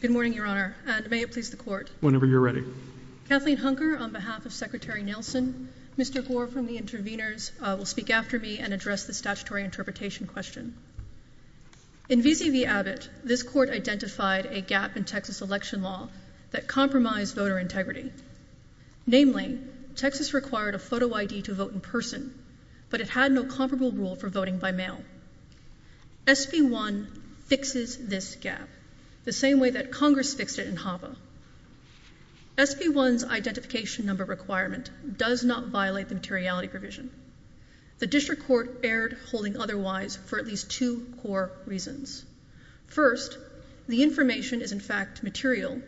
Good morning, Your Honor, and may it please the Court. Whenever you're ready. Kathleen Hunker, on behalf of Secretary Nielsen, Mr. Gore from the interveners will speak after me and address the statutory interpretation question. In v. v. Abbott, this Court identified a gap in Texas election law that compromised voter integrity. Namely, Texas required a photo ID to vote in person, but it had no comparable rule for voting by mail. SB 1 fixes this gap the same way that Congress fixed it in Hoppe. SB 1's identification number requirement does not violate the materiality provision. The district court erred holding otherwise for at least two core reasons. First, the information is in fact material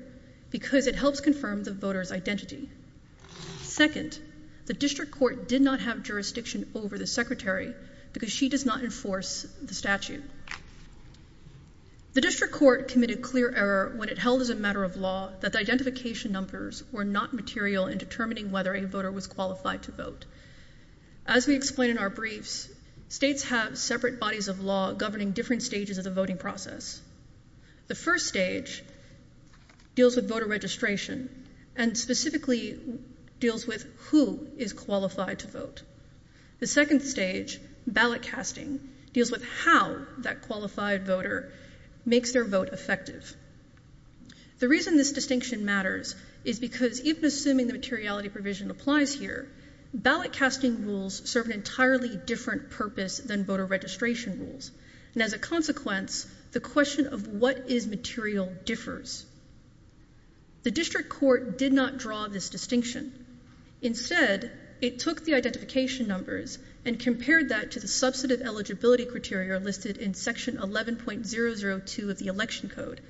because it helps confirm the voters identity. Second, the district court did not have jurisdiction over the secretary because she does not enforce the statute. The district court committed clear error when it held as a matter of law that the identification numbers were not material in determining whether a voter was qualified to vote. As we explain in our briefs, states have separate bodies of law governing different stages of the voting process. The first stage deals with voter registration and specifically deals with who is qualified to vote. The second stage, ballot casting, deals with how that qualified voter makes their vote effective. The reason this distinction matters is because even assuming the materiality provision applies here, ballot casting rules serve an entirely different purpose than voter registration rules. And as a consequence, the question of what is material differs. The district court did not draw this distinction. Instead, it took the identification numbers and compared that to the substantive eligibility criteria listed in section 11.002 of the election code.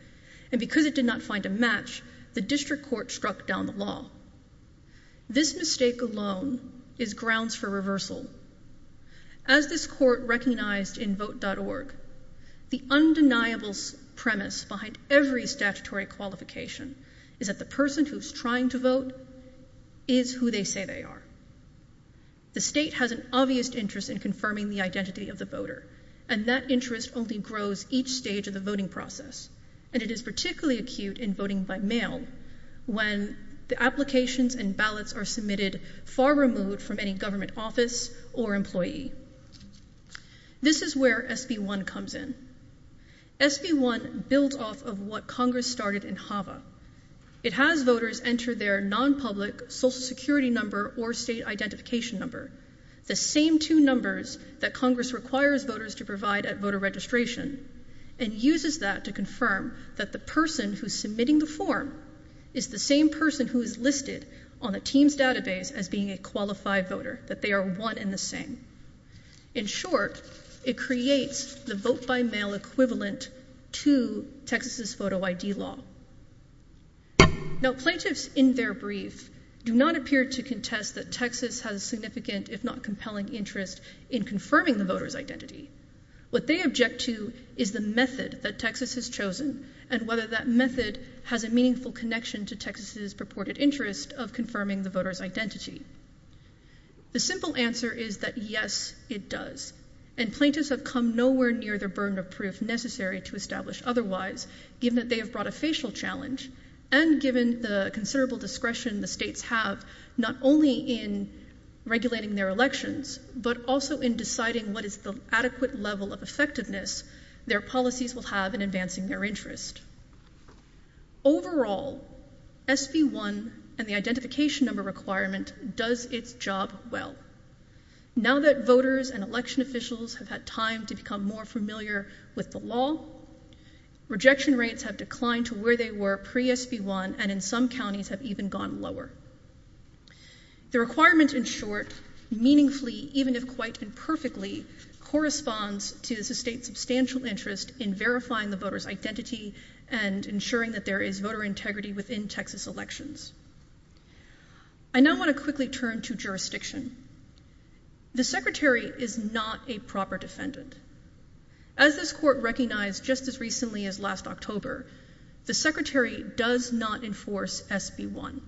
And because it did not find a match, the district court struck down the law. This mistake alone is grounds for reversal. As this court recognized in vote.org, the undeniable premise behind every statutory qualification is that the person who's trying to vote is who they say they are. The state has an obvious interest in confirming the identity of the voter, and that interest only grows each stage of the voting process. And it is particularly acute in voting by mail when the applications and ballots are submitted far removed from any government office or employee. This is where SB one comes in. SB one built off of what Congress started in Hava. It has voters enter their nonpublic Social Security number or state identification number. The same two numbers that Congress requires voters to provide at voter registration and uses that to confirm that the person who's submitting the form is the same person who is listed on the team's database as being a qualified voter that they are one in the same. In short, it creates the vote by mail equivalent to Texas's photo I. D. Law. Now, plaintiffs in their brief do not appear to contest that Texas has significant, if not compelling interest in confirming the voters identity. What they object to is the method that Texas has chosen and whether that method has a meaningful connection to Texas's purported interest of confirming the voters identity. The simple answer is that yes, it does. And plaintiffs have come nowhere near their burden of proof necessary to establish otherwise, given that they have brought a facial challenge and given the considerable discretion the states have not only in regulating their elections, but also in deciding what is the adequate level of effectiveness their policies will have in advancing their interest. Overall, S. P. One and the identification number requirement does its job well. Now that voters and election officials have had time to become more familiar with the law, rejection rates have declined to where they were pre S. P. One and in some counties have even gone lower. The requirement in short, meaningfully, even if quite imperfectly, corresponds to the state's substantial interest in verifying the voters identity and ensuring that there is voter integrity within Texas elections. I now want to quickly turn to jurisdiction. The secretary is not a proper defendant. As this court recognized just as recently as last October, the secretary does not enforce S. P. One.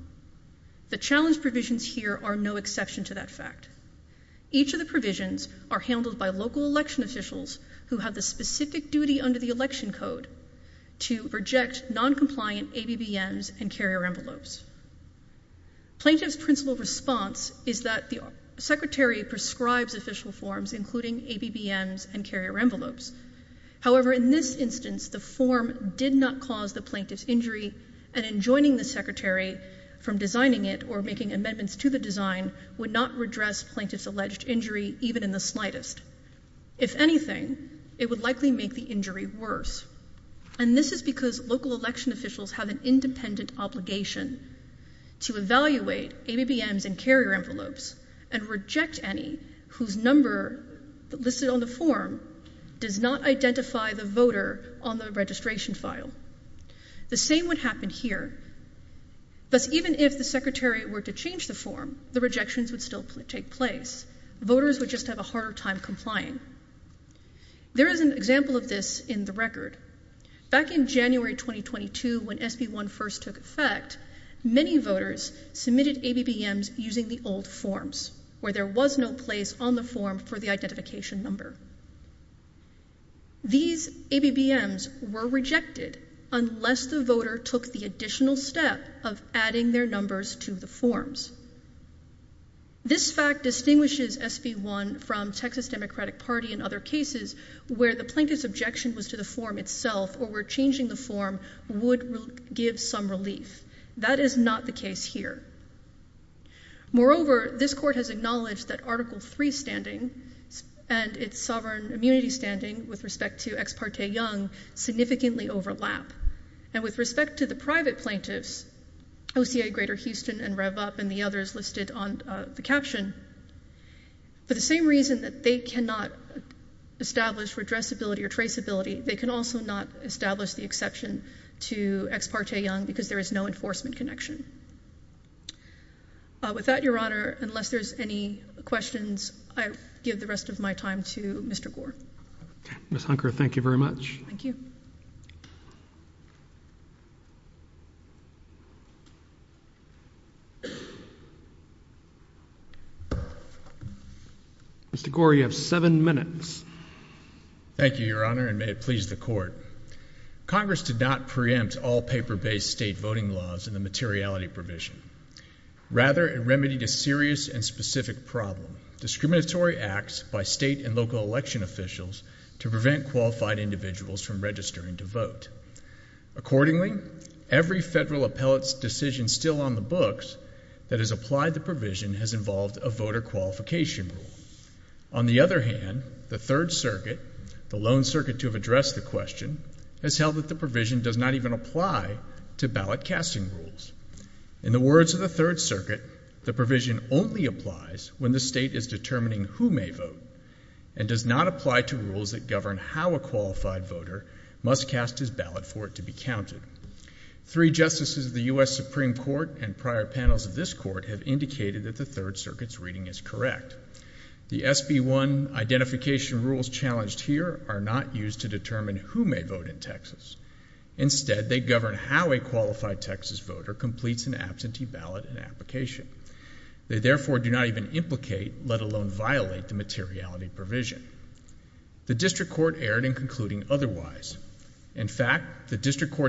The challenge provisions here are no exception to that fact. Each of the officials who have the specific duty under the election code to reject noncompliant A. B. B. M. S. And carrier envelopes. Plaintiff's principle response is that the secretary prescribes official forms, including A. B. B. M. S. And carrier envelopes. However, in this instance, the form did not cause the plaintiff's injury and enjoining the secretary from designing it or making amendments to the design would not redress plaintiff's alleged injury, even in the slightest. If anything, it would likely make the injury worse. And this is because local election officials have an independent obligation to evaluate A. B. B. M. S. And carrier envelopes and reject any whose number listed on the form does not identify the voter on the registration file. The same would happen here. That's even if the secretary were to change the form, the rejections would still take place. Voters would just have a harder time complying. There is an example of this in the record. Back in January 2022, when S. B. One first took effect, many voters submitted A. B. B. M. S. Using the old forms where there was no place on the form for the identification number. These A. B. B. M. S. Were rejected unless the voter took the additional step of adding their numbers to the forms. This fact distinguishes S. B. One from Texas Democratic Party and other cases where the plaintiff's objection was to the form itself, or we're changing the form would give some relief. That is not the case here. Moreover, this court has acknowledged that Article three standing and its sovereign immunity standing with respect to ex parte young significantly overlap. And with respect to the private plaintiffs, O. C. A. Greater Houston and Rev up and the others listed on the caption for the same reason that they cannot establish redress ability or trace ability. They can also not establish the exception to ex parte young because there is no enforcement connection. With that, Your Honor, unless there's any questions, I give the rest of my time to Mr Gore. Miss Hunker. Thank you very much. Thank you. Mhm. Mr Gore, you have seven minutes. Thank you, Your Honor, and may it please the court. Congress did not preempt all paper based state voting laws in the materiality provision. Rather, it remedied a serious and specific problem discriminatory acts by state and local election officials to prevent qualified individuals from registering to vote. Accordingly, every federal appellate's decision still on the books that has applied the provision has involved a voter qualification rule. On the other hand, the Third Circuit, the lone circuit to have addressed the question, has held that the provision does not even apply to ballot casting rules. In the words of the Third Circuit, the provision only applies when the state is determining who may vote and does not apply to rules that govern how a qualified voter must cast his ballot for it to be counted. Three justices of the U. S. Supreme Court and prior panels of this court have indicated that the Third Circuit's reading is correct. The SB 1 identification rules challenged here are not used to determine who may vote in Texas. Instead, they govern how a qualified Texas voter completes an absentee ballot and application. They therefore do not even implicate, let alone violate the materiality provision. The district court's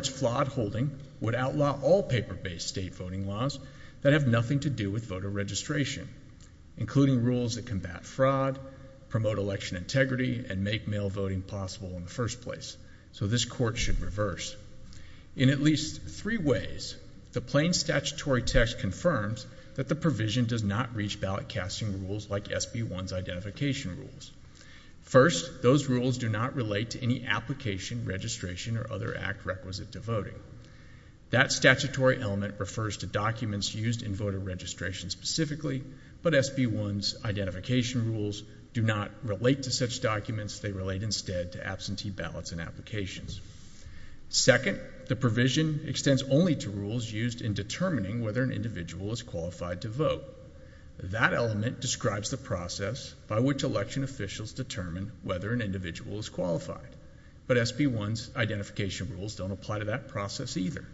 flawed holding would outlaw all paper-based state voting laws that have nothing to do with voter registration, including rules that combat fraud, promote election integrity, and make mail voting possible in the first place. So this court should reverse. In at least three ways, the plain statutory text confirms that the provision does not reach ballot casting rules like SB 1's identification rules. First, those rules do not relate to any application, registration, or other act requisite to voting. That statutory element refers to documents used in voter registration specifically, but SB 1's identification rules do not relate to such documents. They relate instead to absentee ballots and applications. Second, the provision extends only to rules used in determining whether an individual is qualified to vote. That element describes the process by which election officials determine whether an individual is qualified. But SB 1's identification rules don't apply to that process either.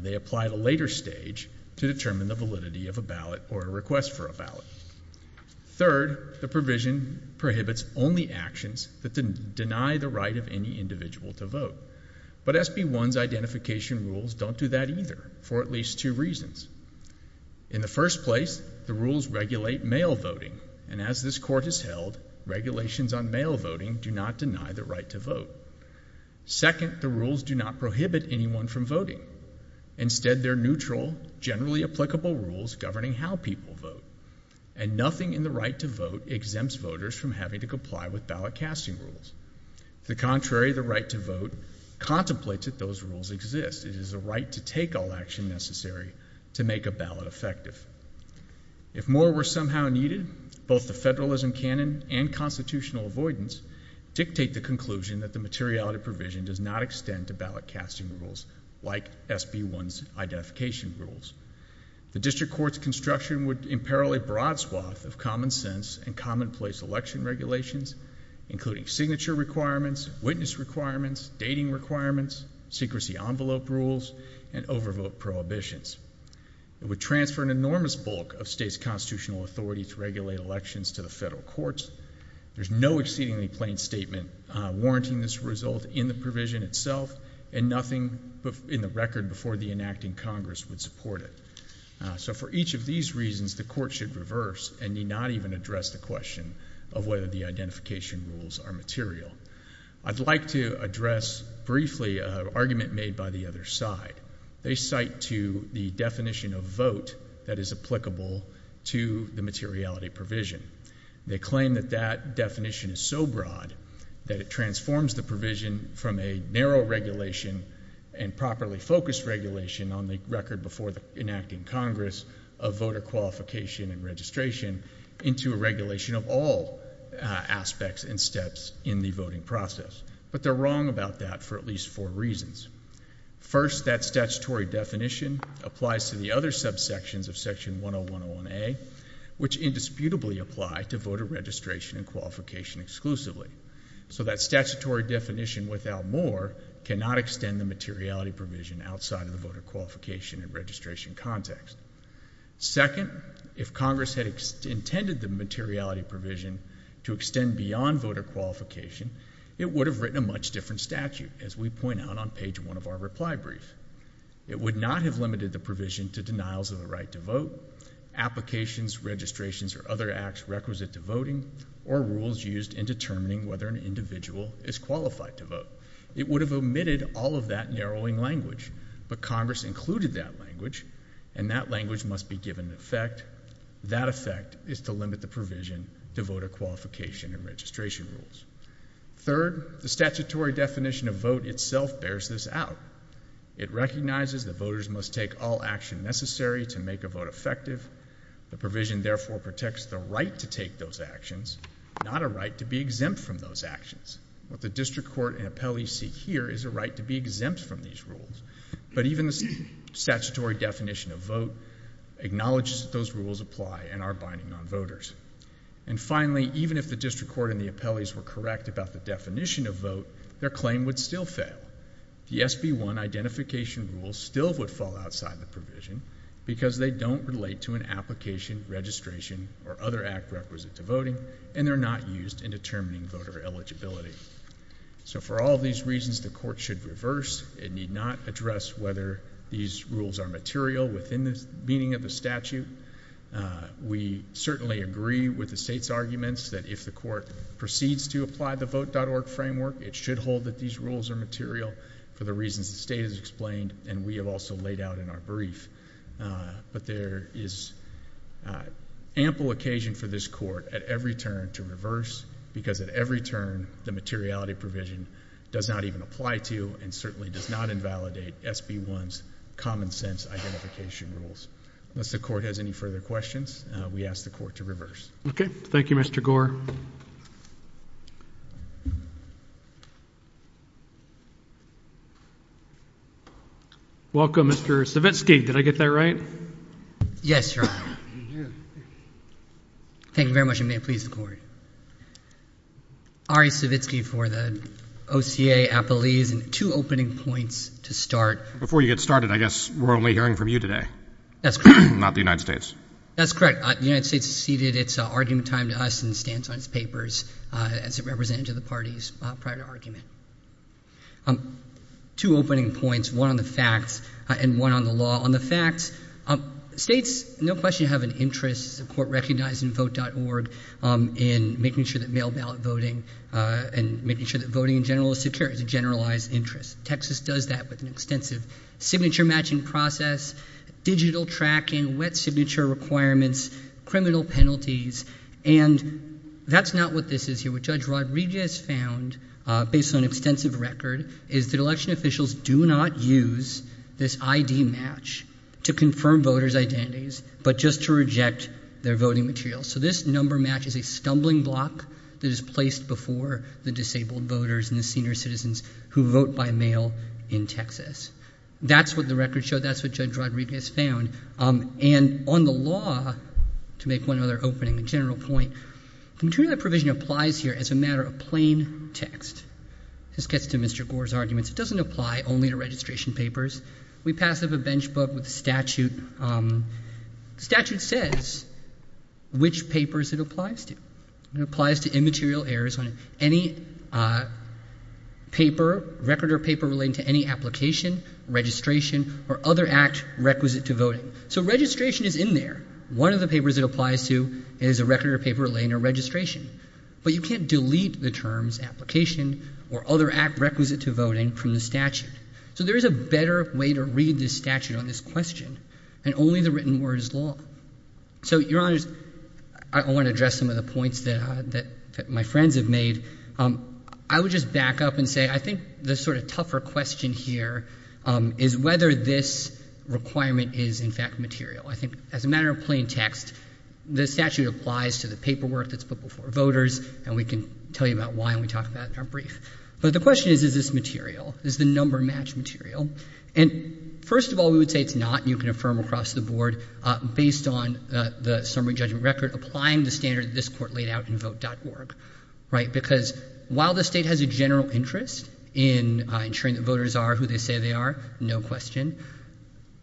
They apply at a later stage to determine the validity of a ballot or a request for a ballot. Third, the provision prohibits only actions that deny the right of any individual to vote. But SB 1's identification rules don't do that either for at least two reasons. In the first place, the rules regulate mail voting. And as this Court has held, regulations on mail voting do not deny the right to vote. Second, the rules do not prohibit anyone from voting. Instead, they're neutral, generally applicable rules governing how people vote. And nothing in the right to vote exempts voters from having to comply with ballot casting rules. To the contrary, the right to vote contemplates that those rules exist. It is a right to take all action necessary to make a ballot effective. If more were somehow needed, both the federalism canon and constitutional avoidance dictate the conclusion that the materiality provision does not extend to ballot casting rules like SB 1's identification rules. The District Court's construction would imperil a broad swath of common sense and commonplace election regulations, including signature requirements, witness requirements, dating requirements, secrecy envelope rules, and overvote prohibitions. It would transfer an enormous bulk of state's constitutional authority to regulate elections to the federal courts. There's no exceedingly plain statement warranting this result in the provision itself, and nothing in the record before the enacting Congress would support it. So for each of these reasons, the Court should reverse and need not even address the question of whether the identification rules are material. I'd like to address briefly an argument made by the other side. They cite to the definition of vote that is applicable to the materiality provision. They claim that that definition is so broad that it transforms the provision from a narrow regulation and properly focused regulation on the record before the enacting Congress of voter qualification and registration into a regulation of all aspects and steps in the voting process. But they're wrong about that for at least four reasons. First, that statutory definition applies to the other subsections of Section 101A, which indisputably apply to voter registration and qualification exclusively. So that statutory definition without more cannot extend the materiality provision outside of the voter qualification and registration context. Second, if Congress had intended the materiality provision to extend beyond voter qualification, it would have written a much different statute, as we point out on page one of our reply brief. It would not have limited the provision to denials of the right to vote, applications, registrations, or other acts requisite to voting, or rules used in determining whether an individual is qualified to vote. It would have omitted all of that narrowing language, but Congress included that language, and that language must be given effect. That effect is to limit the provision to voter qualification and registration rules. Third, the statutory definition of vote itself bears this out. It recognizes that voters must take all action necessary to make a vote effective. The provision, therefore, protects the right to take those actions, not a right to be exempt from those actions. What the district court and appellees seek here is a right to be exempt from these rules, but even the statutory definition of vote acknowledges that those rules apply and are binding on voters. And finally, even if the district court and the appellees were correct about the definition of vote, their claim would still fail. The SB1 identification rules still would fall outside the provision because they don't relate to an application, registration, or other act requisite to voting, and they're not used in determining voter eligibility. So for all of those reasons, the court should reverse. It need not address whether these rules are material within the meaning of the statute. We certainly agree with the state's arguments that if the court proceeds to apply the vote.org framework, it should hold that these rules are material for the reasons the state has explained and we have also laid out in our brief. But there is ample occasion for this court at every turn to reverse because at every turn, the materiality of the provision does not even apply to and certainly does not invalidate SB1's common sense identification rules. Unless the court has any further questions, we ask the court to reverse. Okay. Thank you, Mr. Gore. Welcome, Mr. Savitsky. Did I get that right? Yes, Your Honor. Thank you very much and may it please the court. Ari Savitsky for the OCA Appellees and two opening points to start. Before you get started, I guess we're only hearing from you today. That's correct. Not the United States. That's correct. The United States has ceded its argument time to us and stands on its papers as a representative of the parties prior to argument. Two opening points, one on the facts and one on the law. On the facts, states no question have an interest, as the court recognized in vote.org, in making sure that mail ballot voting and making sure that voting in general is secure. It's a generalized interest. Texas does that with an extensive signature matching process, digital tracking, wet signature requirements, criminal penalties, and that's not what this is here. What Judge Rod Regis found based on extensive record is that election officials do not use this ID match to confirm voters' identities, but just to reject their voting materials. So this number match is a stumbling block that is placed before the disabled voters and the senior citizens who vote by mail in Texas. That's what the record showed. That's what Judge Rod Regis found. And on the law, to make one other opening and general point, the provision applies here as a matter of plain text. This gets to Mr. Gore's arguments. It doesn't apply only to registration papers. We pass up a bench book with statute. Statute says which papers it applies to. It applies to immaterial errors on any paper, record or paper relating to any application, registration, or other act requisite to voting. So registration is in there. One of the papers it applies to is a record or paper relating to registration. But you can't delete the terms application or other act requisite to voting from the statute. So there is a better way to read this statute on this question, and only the written word is law. So, Your Honors, I want to address some of the points that my friends have made. I would just back up and say I think the sort of tougher question here is whether this requirement is in fact material. I think as a matter of plain text, the statute applies to the paperwork that's put before voters, and we can tell you about why when we talk about it in our brief. But the question is, is this material? Is the number match material? And first of all, we would say it's not. You can affirm across the board, based on the summary judgment record, applying the standard that this Court laid out in vote.org, right? Because while the State has a general interest in ensuring that voters are who they say they are, no question,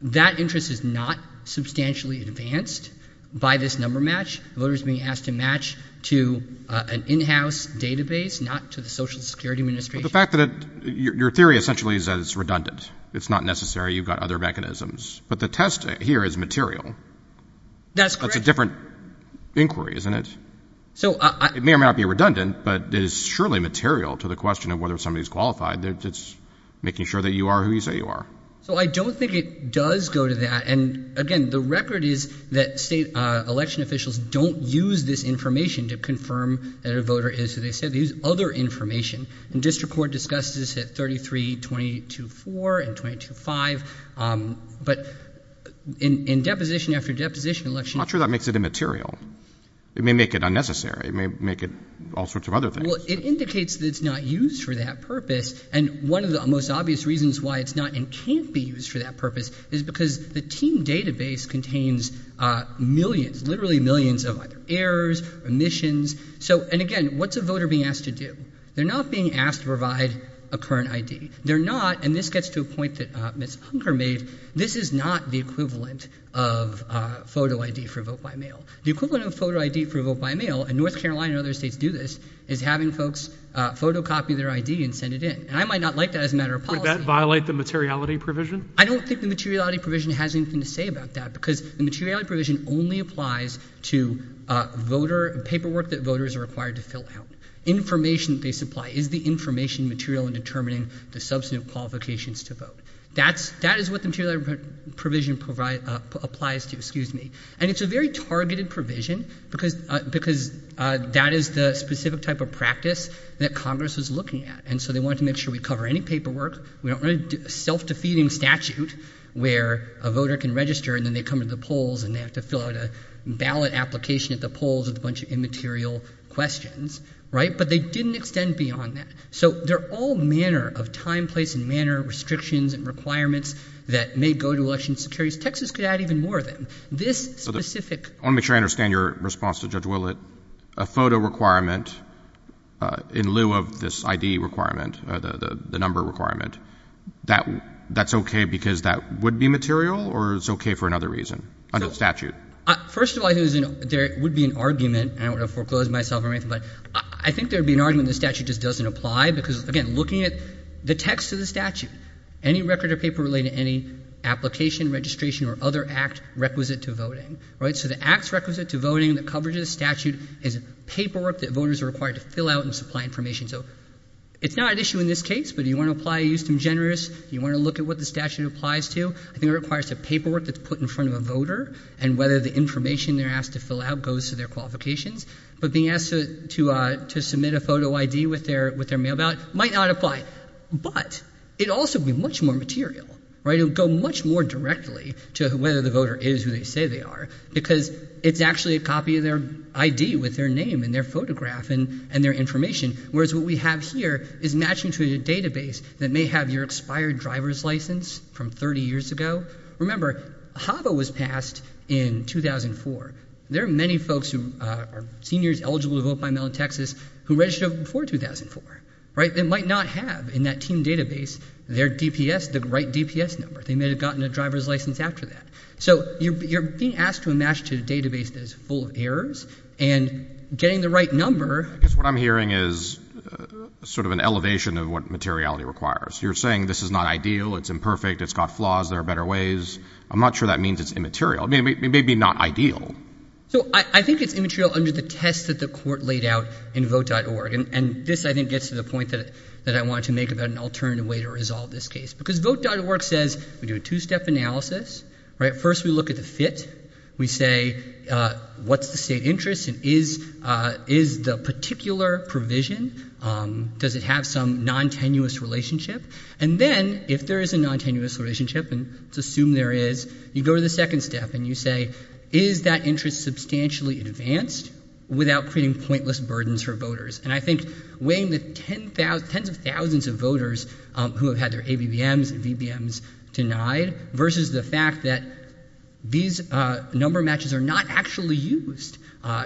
that interest is not substantially advanced by this number match. Voters are being asked to match to an in-house database, not to the Social Security Administration. But the fact that it — your theory essentially is that it's redundant. It's not necessary. You've got other mechanisms. But the test here is material. That's correct. That's a different inquiry, isn't it? So I — It may or may not be redundant, but it is surely material to the question of whether somebody is qualified. It's making sure that you are who you say you are. So I don't think it does go to that. And again, the record is that State election officials don't use this information to confirm that a voter is who they say they are. They use other information. And District Court discussed this at 33-22-4 and 22-5. But in deposition after deposition — I'm not sure that makes it immaterial. It may make it unnecessary. It may make it all sorts of other things. Well, it indicates that it's not used for that purpose. And one of the most obvious reasons why it's not and can't be used for that purpose is because the team database contains millions, literally millions, of either errors, omissions. So — and again, what's a voter being asked to do? They're not being asked to provide a current ID. They're not — and this gets to a point that Ms. Hunker made — this is not the equivalent of photo ID for vote by mail. The equivalent of photo ID for vote by mail — and North Carolina and other states do this — is having folks photocopy their ID and send it in. And I might not like that as a matter of policy. Would that violate the materiality provision? I don't think the materiality provision has anything to say about that because the materiality provision only applies to voter — paperwork that voters are required to fill out. Information that they supply is the information material in determining the substantive qualifications to vote. That's — that is what the materiality provision applies to, excuse me. And it's a very targeted provision because that is the specific type of practice that Congress was looking at. And so they wanted to make sure we cover any paperwork. We don't want to do a self-defeating statute where a voter can register and then they come to the polls and they have to fill out a ballot application at the polls with a bunch of immaterial questions, right? But they didn't extend beyond that. So there are all manner of time, place, and manner of restrictions and requirements that may go to election securities. Texas could add even more of them. This specific — I want to make sure I understand your response to Judge Willett. A photo requirement in lieu of this ID requirement, the number requirement, that's okay because that would be material or it's okay for another reason under the statute? First of all, I think there would be an argument, and I don't want to foreclose myself or anything, but I think there would be an argument the statute just doesn't apply because, again, looking at the text of the statute, any record or paper relating to any application, registration, or other act requisite to voting, right? So the acts requisite to voting, the coverage under the statute is paperwork that voters are required to fill out and supply information. So it's not an issue in this case, but do you want to apply eustem generis? Do you want to look at what the statute applies to? I think it requires the paperwork that's put in front of a voter and whether the information they're asked to fill out goes to their qualifications. But being asked to submit a photo ID with their mail ballot might not apply. But it also would be much more material, right? It would go much more directly to whether the photograph and their information, whereas what we have here is matching to a database that may have your expired driver's license from 30 years ago. Remember, HAVA was passed in 2004. There are many folks who are seniors eligible to vote by mail in Texas who registered before 2004, right? They might not have in that team database their DPS, the right DPS number. They may have gotten a driver's license after that. So you're being asked to match to a database that is full of errors. And getting the right number... I guess what I'm hearing is sort of an elevation of what materiality requires. You're saying this is not ideal, it's imperfect, it's got flaws, there are better ways. I'm not sure that means it's immaterial. It may be not ideal. So I think it's immaterial under the test that the court laid out in Vote.org. And this, I think, gets to the point that I wanted to make about an alternative way to resolve this case. Because Vote.org says we do a two-step analysis, right? First we look at the fit. We say, what's the state interest and is the particular provision, does it have some non-tenuous relationship? And then if there is a non-tenuous relationship, and let's assume there is, you go to the second step and you say, is that interest substantially advanced without creating pointless burdens for voters? And I think weighing the tens of thousands of voters who have had their ABBMs and VBMs denied versus the fact that these number matches are not actually used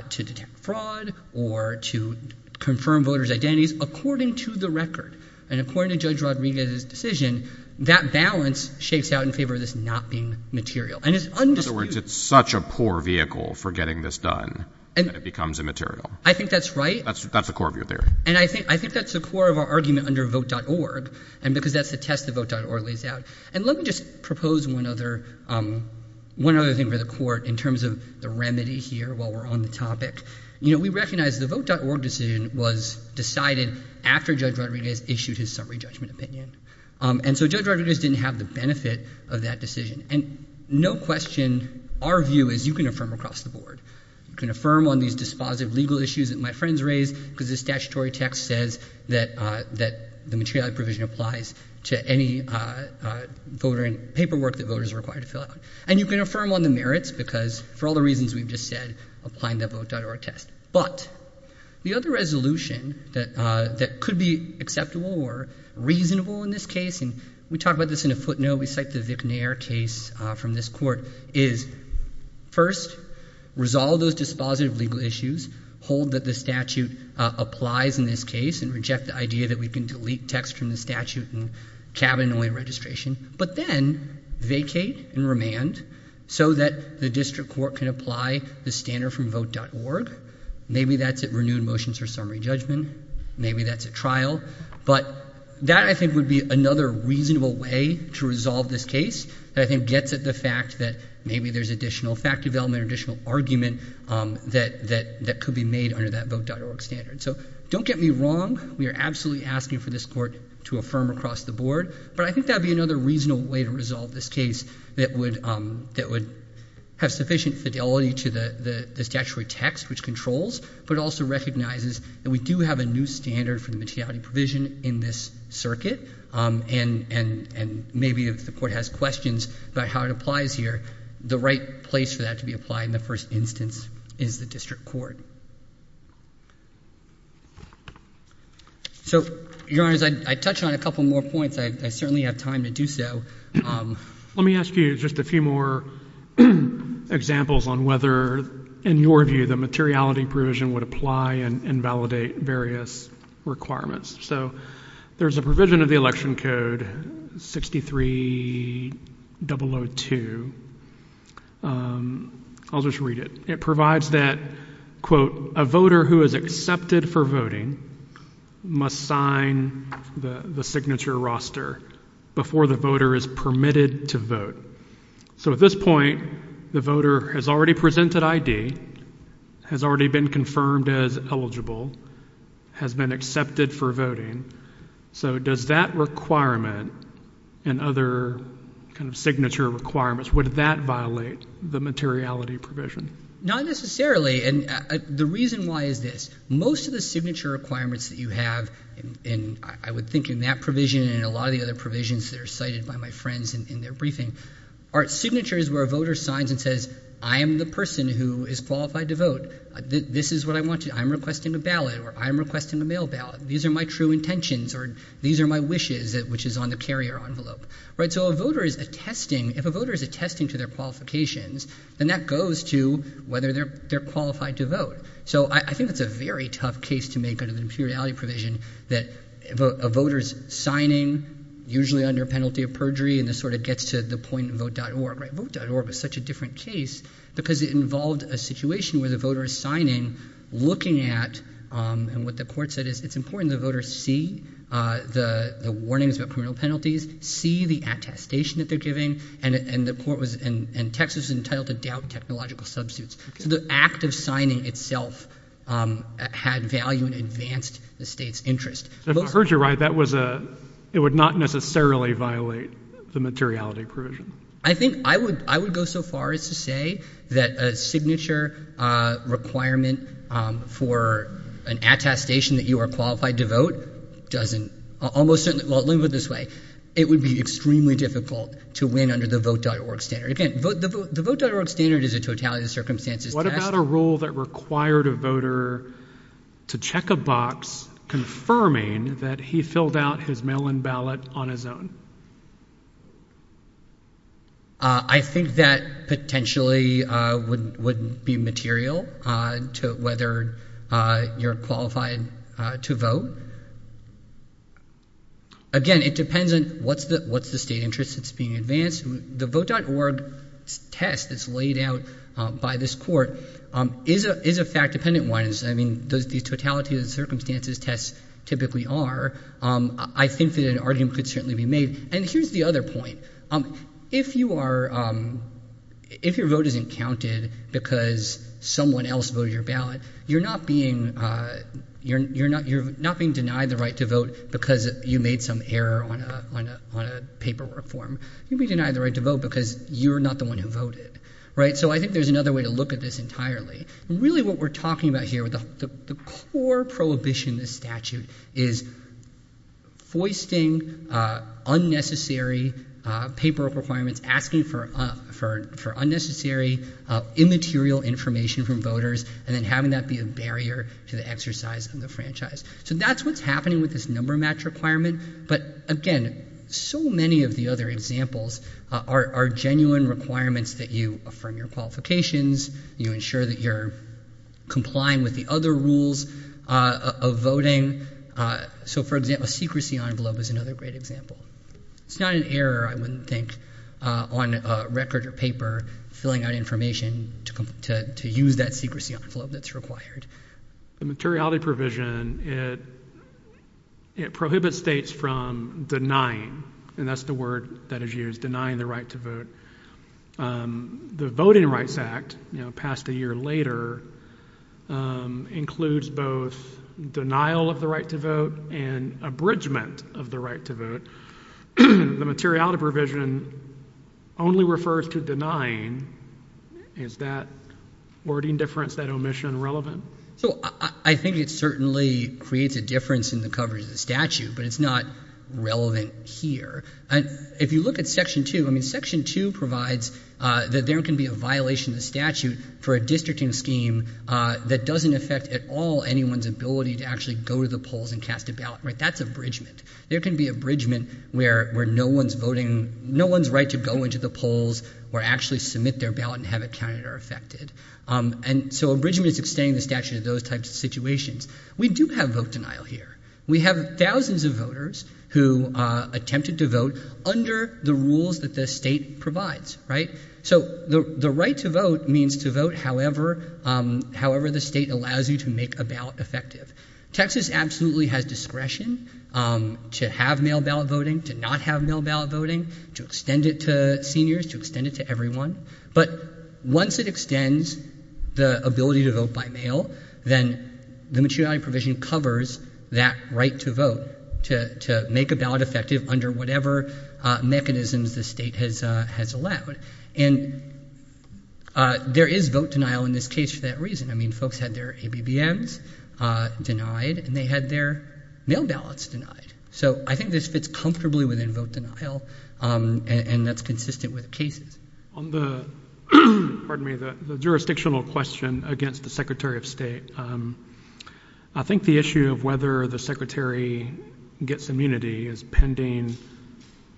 to detect fraud or to confirm voters' identities, according to the record, and according to Judge Rodriguez's decision, that balance shakes out in favor of this not being material. And it's undisputed... In other words, it's such a poor vehicle for getting this done that it becomes immaterial. I think that's right. That's the core of your theory. And I think that's the core of our argument under Vote.org, and because that's the test that Vote.org lays out. And let me just propose one other thing for the court in terms of the remedy here while we're on the topic. You know, we recognize the Vote.org decision was decided after Judge Rodriguez issued his summary judgment opinion. And so Judge Rodriguez didn't have the benefit of that decision. And no question, our view is you can affirm across the board. You can affirm on these dispositive legal issues that my friends raise because the statutory text says that the materiality provision applies to any voting paperwork that voters are required to fill out. And you can affirm on the merits because for all the reasons we've just said, applying the Vote.org test. But the other resolution that could be acceptable or reasonable in this case, and we talk about this in a footnote, we cite the Vicknayer case from this court, is first, resolve those dispositive legal issues, hold that the statute applies in this case, and reject the idea that we can delete text from the statute and cabinet-only registration, but then vacate and remand so that the district court can apply the standard from Vote.org. Maybe that's at renewed motions for summary judgment. Maybe that's at trial. But that, I think, would be another reasonable way to resolve this case that I think gets at the fact that maybe there's additional fact development or additional argument that could be made under that Vote.org standard. So don't get me wrong. We are absolutely asking for this court to affirm across the board. But I think that would be another reasonable way to resolve this case that would have sufficient fidelity to the statutory text, which controls, but also recognizes that we do have a new standard for the materiality provision in this circuit. And maybe if the court has questions about how it applies here, the right place for that to be applied in the first instance is the district court. So, Your Honors, I'd touch on a couple more points. I certainly have time to do so. Let me ask you just a few more examples on whether, in your view, the materiality provision would apply and validate various requirements. So there's a provision of the Election Code 63002. I'll just read it. It provides that, quote, a voter who is accepted for voting must sign the signature roster before the voter is permitted to vote. So at this point, the voter has already presented ID, has already been confirmed as eligible, has been accepted for voting. So does that requirement and other kind of signature requirements, would that violate the materiality provision? Not necessarily. And the reason why is this. Most of the signature requirements that you have, and I would think in that provision and in a lot of the other provisions that are cited by my friends in their briefing, are signatures where a voter signs and says, I am the person who is qualified to vote. This is what I want to do. I'm requesting a ballot, or I'm requesting a mail ballot. These are my true intentions, or these are my wishes, which is on the carrier envelope. So a voter is attesting, if a voter is attesting to their qualifications, then that goes to whether they're qualified to vote. So I think that's a very tough case to make under the materiality provision that a voter's signing, usually under penalty of perjury, and this sort of gets to the point of vote.org. Vote.org is such a different case because it involved a situation where the voter is signing, looking at, and what the court said is, it's important that voters see the warnings about criminal penalties, see the attestation that they're giving, and the court was, and Texas was entitled to doubt technological substitutes. So the act of signing itself had value and advanced the state's interest. So if I heard you right, that was a, it would not necessarily violate the materiality provision. I think I would go so far as to say that a signature requirement for an attestation that you are qualified to vote doesn't, almost certainly, well, let me put it this way, it would be extremely difficult to win under the vote.org standard. Again, the vote.org standard is a totality of circumstances test. What about a rule that required a voter to check a box confirming that he filled out his mail-in ballot on his own? I think that potentially wouldn't be material to whether you're qualified to vote. Again, it depends on what's the state interest that's being advanced. The vote.org test that's laid out by this court is a fact-dependent one. I mean, the totality of the circumstances tests typically are. I think that an argument could certainly be made. And here's the other point. If you are, if your vote isn't counted because someone else voted your ballot, you're not being, you're not being denied the right to vote because you made some error on a paperwork form. You'd be denied the right to vote because you're not the one who voted. Right? So I think there's another way to look at this entirely. Really what we're talking about here, the core prohibition in this statute is foisting unnecessary paperwork requirements, asking for unnecessary immaterial information from voters, and then having that be a barrier to the exercise of the franchise. So that's what's happening with this number match requirement. But again, so many of the other examples are genuine requirements that you affirm your qualifications, you ensure that you're complying with the other rules of voting. So for example, secrecy envelope is another great example. It's not an error, I wouldn't think, on record or paper, filling out information to use that secrecy envelope that's required. The materiality provision, it prohibits states from denying, and that's the word that is later, includes both denial of the right to vote and abridgment of the right to vote. The materiality provision only refers to denying. Is that wording difference, that omission relevant? So I think it certainly creates a difference in the coverage of the statute, but it's not relevant here. If you look at Section 2, I mean, Section 2 provides that there can be a violation of the statute for a districting scheme that doesn't affect at all anyone's ability to actually go to the polls and cast a ballot. That's abridgment. There can be abridgment where no one's voting, no one's right to go into the polls or actually submit their ballot and have it counted or affected. And so abridgment is extending the statute in those types of situations. We do have vote denial here. We have thousands of voters who attempted to vote under the rules that the right to vote means to vote however the state allows you to make a ballot effective. Texas absolutely has discretion to have mail ballot voting, to not have mail ballot voting, to extend it to seniors, to extend it to everyone. But once it extends the ability to vote by mail, then the materiality provision covers that right to vote, to make a ballot effective under whatever mechanisms the state has allowed. And there is vote denial in this case for that reason. I mean, folks had their ABBMs denied, and they had their mail ballots denied. So I think this fits comfortably within vote denial, and that's consistent with cases. On the jurisdictional question against the Secretary of State, I think the issue of whether the Secretary gets immunity is pending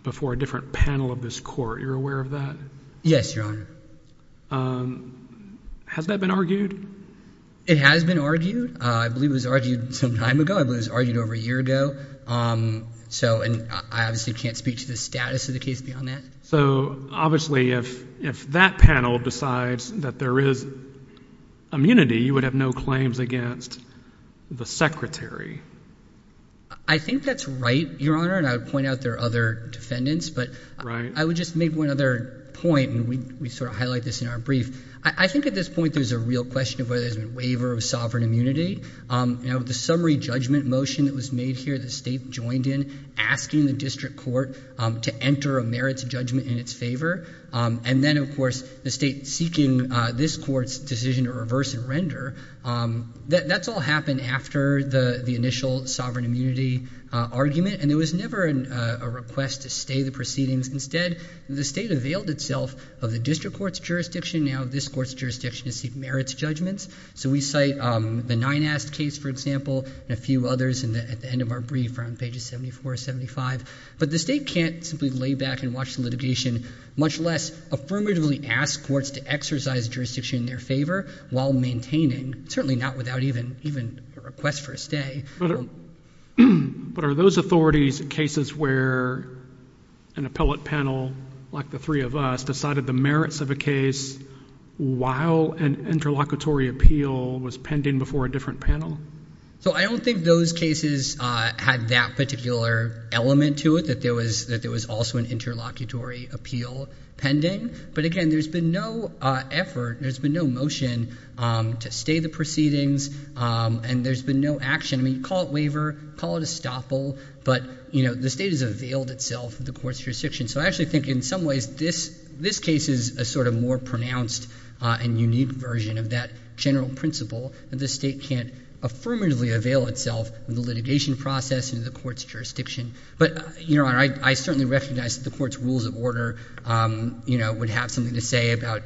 before a different panel of this court. You're aware of that? Yes, Your Honor. Has that been argued? It has been argued. I believe it was argued some time ago. I believe it was argued over a year ago. So, and I obviously can't speak to the status of the case beyond that. So, obviously, if that panel decides that there is immunity, you would have no claims against the Secretary. I think that's right, Your Honor. And I would point out there are other defendants. Right. But I would just make one other point, and we sort of highlight this in our brief. I think at this point there's a real question of whether there's a waiver of sovereign immunity. Now, the summary judgment motion that was made here, the state joined in asking the district court to enter a merits judgment in its favor. And then, of course, the state court's decision to reverse and render, that's all happened after the initial sovereign immunity argument. And there was never a request to stay the proceedings. Instead, the state availed itself of the district court's jurisdiction. Now, this court's jurisdiction to seek merits judgments. So we cite the Ninast case, for example, and a few others at the end of our brief around pages 74, 75. But the state can't simply lay back and watch the litigation, much less affirmatively ask courts to exercise jurisdiction in their favor while maintaining, certainly not without even a request for a stay. But are those authorities cases where an appellate panel, like the three of us, decided the merits of a case while an interlocutory appeal was pending before a different panel? So I don't think those cases had that particular element to it, that there was also an interlocutory appeal pending. But again, there's been no effort, there's been no motion to stay the proceedings, and there's been no action. I mean, call it waiver, call it estoppel, but the state has availed itself of the court's jurisdiction. So I actually think, in some ways, this case is a sort of more pronounced and unique version of that general principle that the state can't affirmatively avail itself of the litigation process and the court's jurisdiction. But, Your Honor, I certainly recognize that the court's rules of order would have something to say about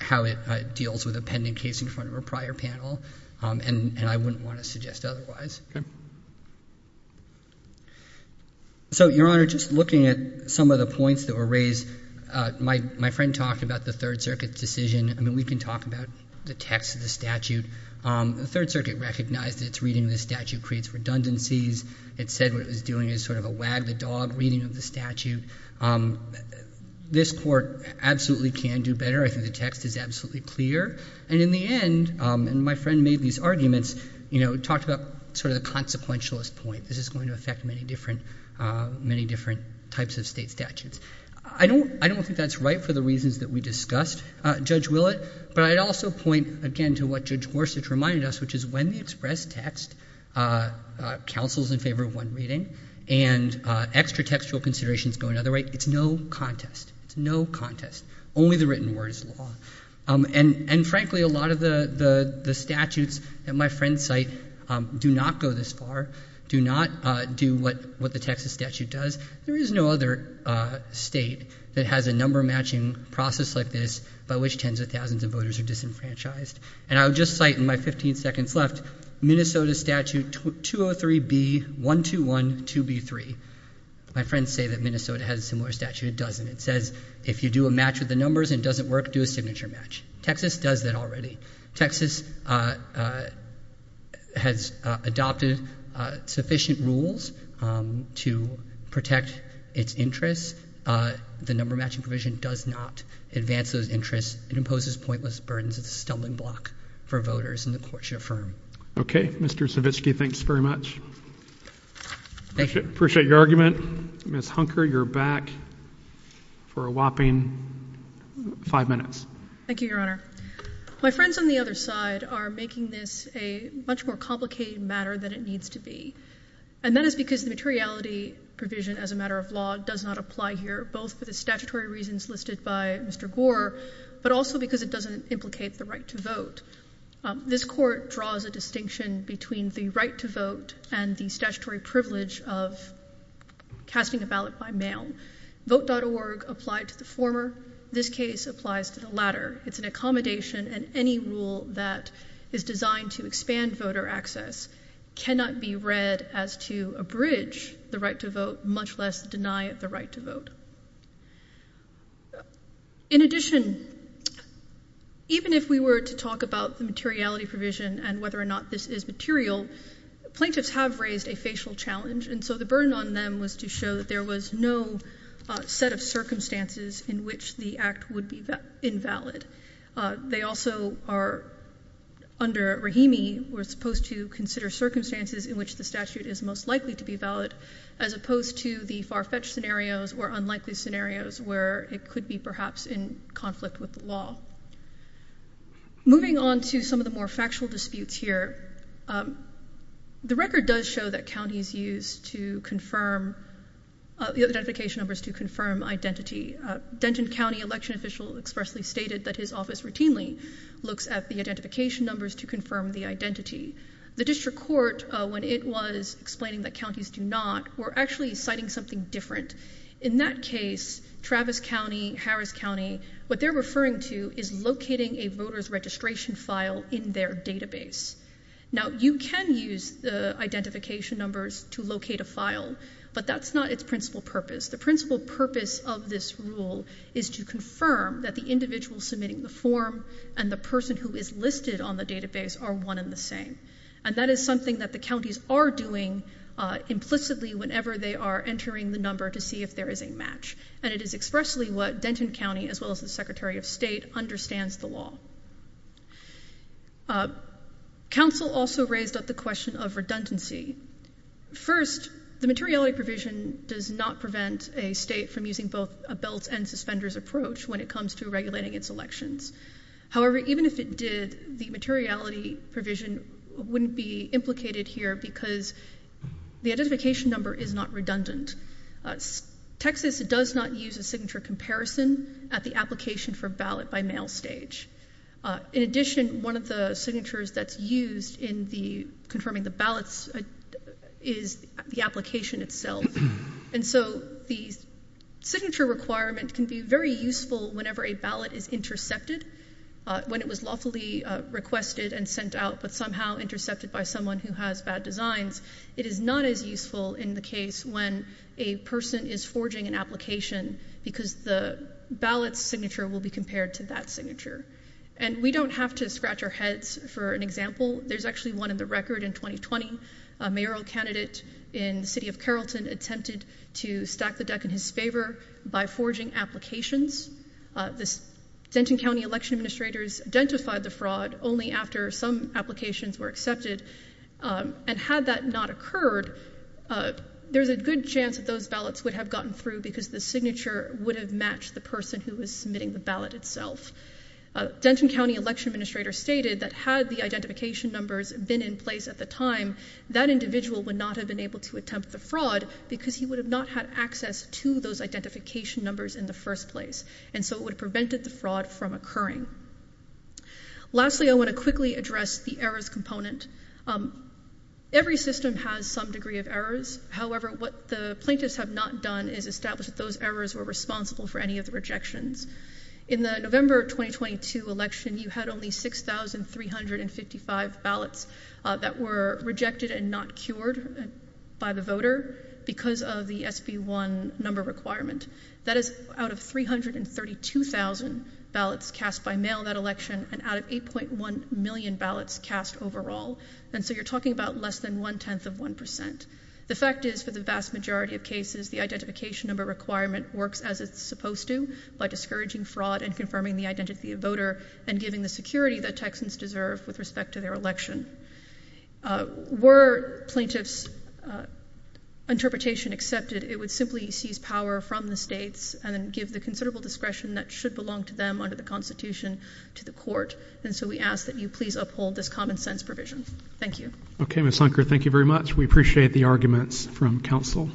how it deals with a pending case in front of a prior panel, and I wouldn't want to suggest otherwise. So, Your Honor, just looking at some of the points that were raised, my friend talked about the Third Circuit's decision. I mean, we can talk about the text of the statute. The Third Circuit recognized that its reading of the statute creates redundancies. It said what it was doing is sort of a wag the dog reading of the statute. This court absolutely can do better. I think the text is absolutely clear. And in the end, and my friend made these arguments, you know, talked about sort of the consequentialist point, this is going to affect many different types of state statutes. I don't think that's right for the reasons that we discussed, Judge Willett. But I'd also point, again, to what Judge Gorsuch reminded us, which is when the counsel's in favor of one reading and extra textual considerations go another way, it's no contest. It's no contest. Only the written word is law. And frankly, a lot of the statutes that my friend cite do not go this far, do not do what the Texas statute does. There is no other state that has a number matching process like this by which tens of thousands of voters are disenfranchised. And I would just cite in my 15 seconds left Minnesota Statute 203B1212B3. My friends say that Minnesota has a similar statute. It doesn't. It says if you do a match with the numbers and it doesn't work, do a signature match. Texas does that already. Texas has adopted sufficient rules to protect its interests. The number matching provision does not advance those interests. It imposes pointless burdens of the stumbling block for voters in the courts you affirm. Okay. Mr. Savitsky, thanks very much. Appreciate your argument. Ms. Hunker, you're back for a whopping five minutes. Thank you, Your Honor. My friends on the other side are making this a much more complicated matter than it needs to be. And that is because the materiality provision as a matter of law does not apply here, both for the statutory reasons listed by Mr. Gore, but also because it doesn't implicate the right to vote. This court draws a distinction between the right to vote and the statutory privilege of casting a ballot by mail. Vote.org applied to the former. This case applies to the latter. It's an accommodation, and any rule that is designed to expand voter access cannot be read as to abridge the right to vote, much less deny the right to vote. In addition, even if we were to talk about the materiality provision and whether or not this is material, plaintiffs have raised a facial challenge, and so the burden on them was to show that there was no set of circumstances in which the act would be invalid. They also are, under Rahimi, were supposed to consider circumstances in which the statute is most likely to be valid, as opposed to the far-fetched scenarios or unlikely scenarios where it could be perhaps in conflict with the law. Moving on to some of the more factual disputes here, the record does show that counties use the identification numbers to confirm identity. Denton County election official expressly stated that his office routinely looks at the identification numbers to confirm the identity. The district court, when it was explaining that counties do not, were actually citing something different. In that case, Travis County, Harris County, what they're referring to is locating a voter's registration file in their database. Now, you can use the identification numbers to locate a file, but that's not its principal purpose. The principal purpose of this rule is to confirm that the individual submitting the form and the person who is listed on the database are one and the same, and that is something that the counties are doing implicitly whenever they are entering the number to see if there is a match, and it is expressly what Denton County, as well as the Secretary of State, understands the law. Council also raised up the question of redundancy. First, the materiality provision does not prevent a state from using both a belt and suspender's approach when it comes to regulating its elections. However, even if it did, the materiality provision wouldn't be implicated here because the identification number is not redundant. Texas does not use a signature comparison at the application for ballot by mail stage. In addition, one of the signatures that's used in confirming the ballots is the application itself, and so the signature requirement can be very useful whenever a ballot is intercepted. When it was lawfully requested and sent out but somehow intercepted by someone who has bad designs, it is not as useful in the case when a person is forging an application because the ballot's signature will be compared to that signature. And we don't have to scratch our heads for an example. There's actually one in the record in 2020. A mayoral candidate in the city of Carrollton attempted to stack the deck in his favor by forging applications. The Denton County election administrators identified the fraud only after some applications were accepted, and had that not occurred, there's a good chance that those ballots would have gotten through because the signature would have matched the person who was submitting the ballot itself. Denton County election administrators stated that had the identification numbers been in place at the time, that individual would not have been able to attempt the fraud because he would have not had access to those identification numbers in the first place, and so it would have prevented the fraud from occurring. Lastly, I want to quickly address the errors component. Every system has some degree of errors. However, what the plaintiffs have not done is establish that those errors were responsible for any of the rejections. In the November 2022 election, you had only 6,355 ballots that were rejected and not cured by the voter because of the SB1 number requirement. That is out of 332,000 ballots cast by mail that election, and out of 8.1 million ballots cast overall. And so you're talking about less than one-tenth of one percent. The fact is, for the vast majority of cases, the identification number requirement works as it's supposed to by discouraging fraud and confirming the identity of voter and giving the security that Texans deserve with respect to their election. Were plaintiffs' interpretation accepted, it would simply seize power from the states and then give the considerable discretion that should belong to them under the Constitution to the court, and so we ask that you please uphold this common-sense provision. Thank you. Okay, Ms. Hunker, thank you very much. We appreciate the arguments from counsel.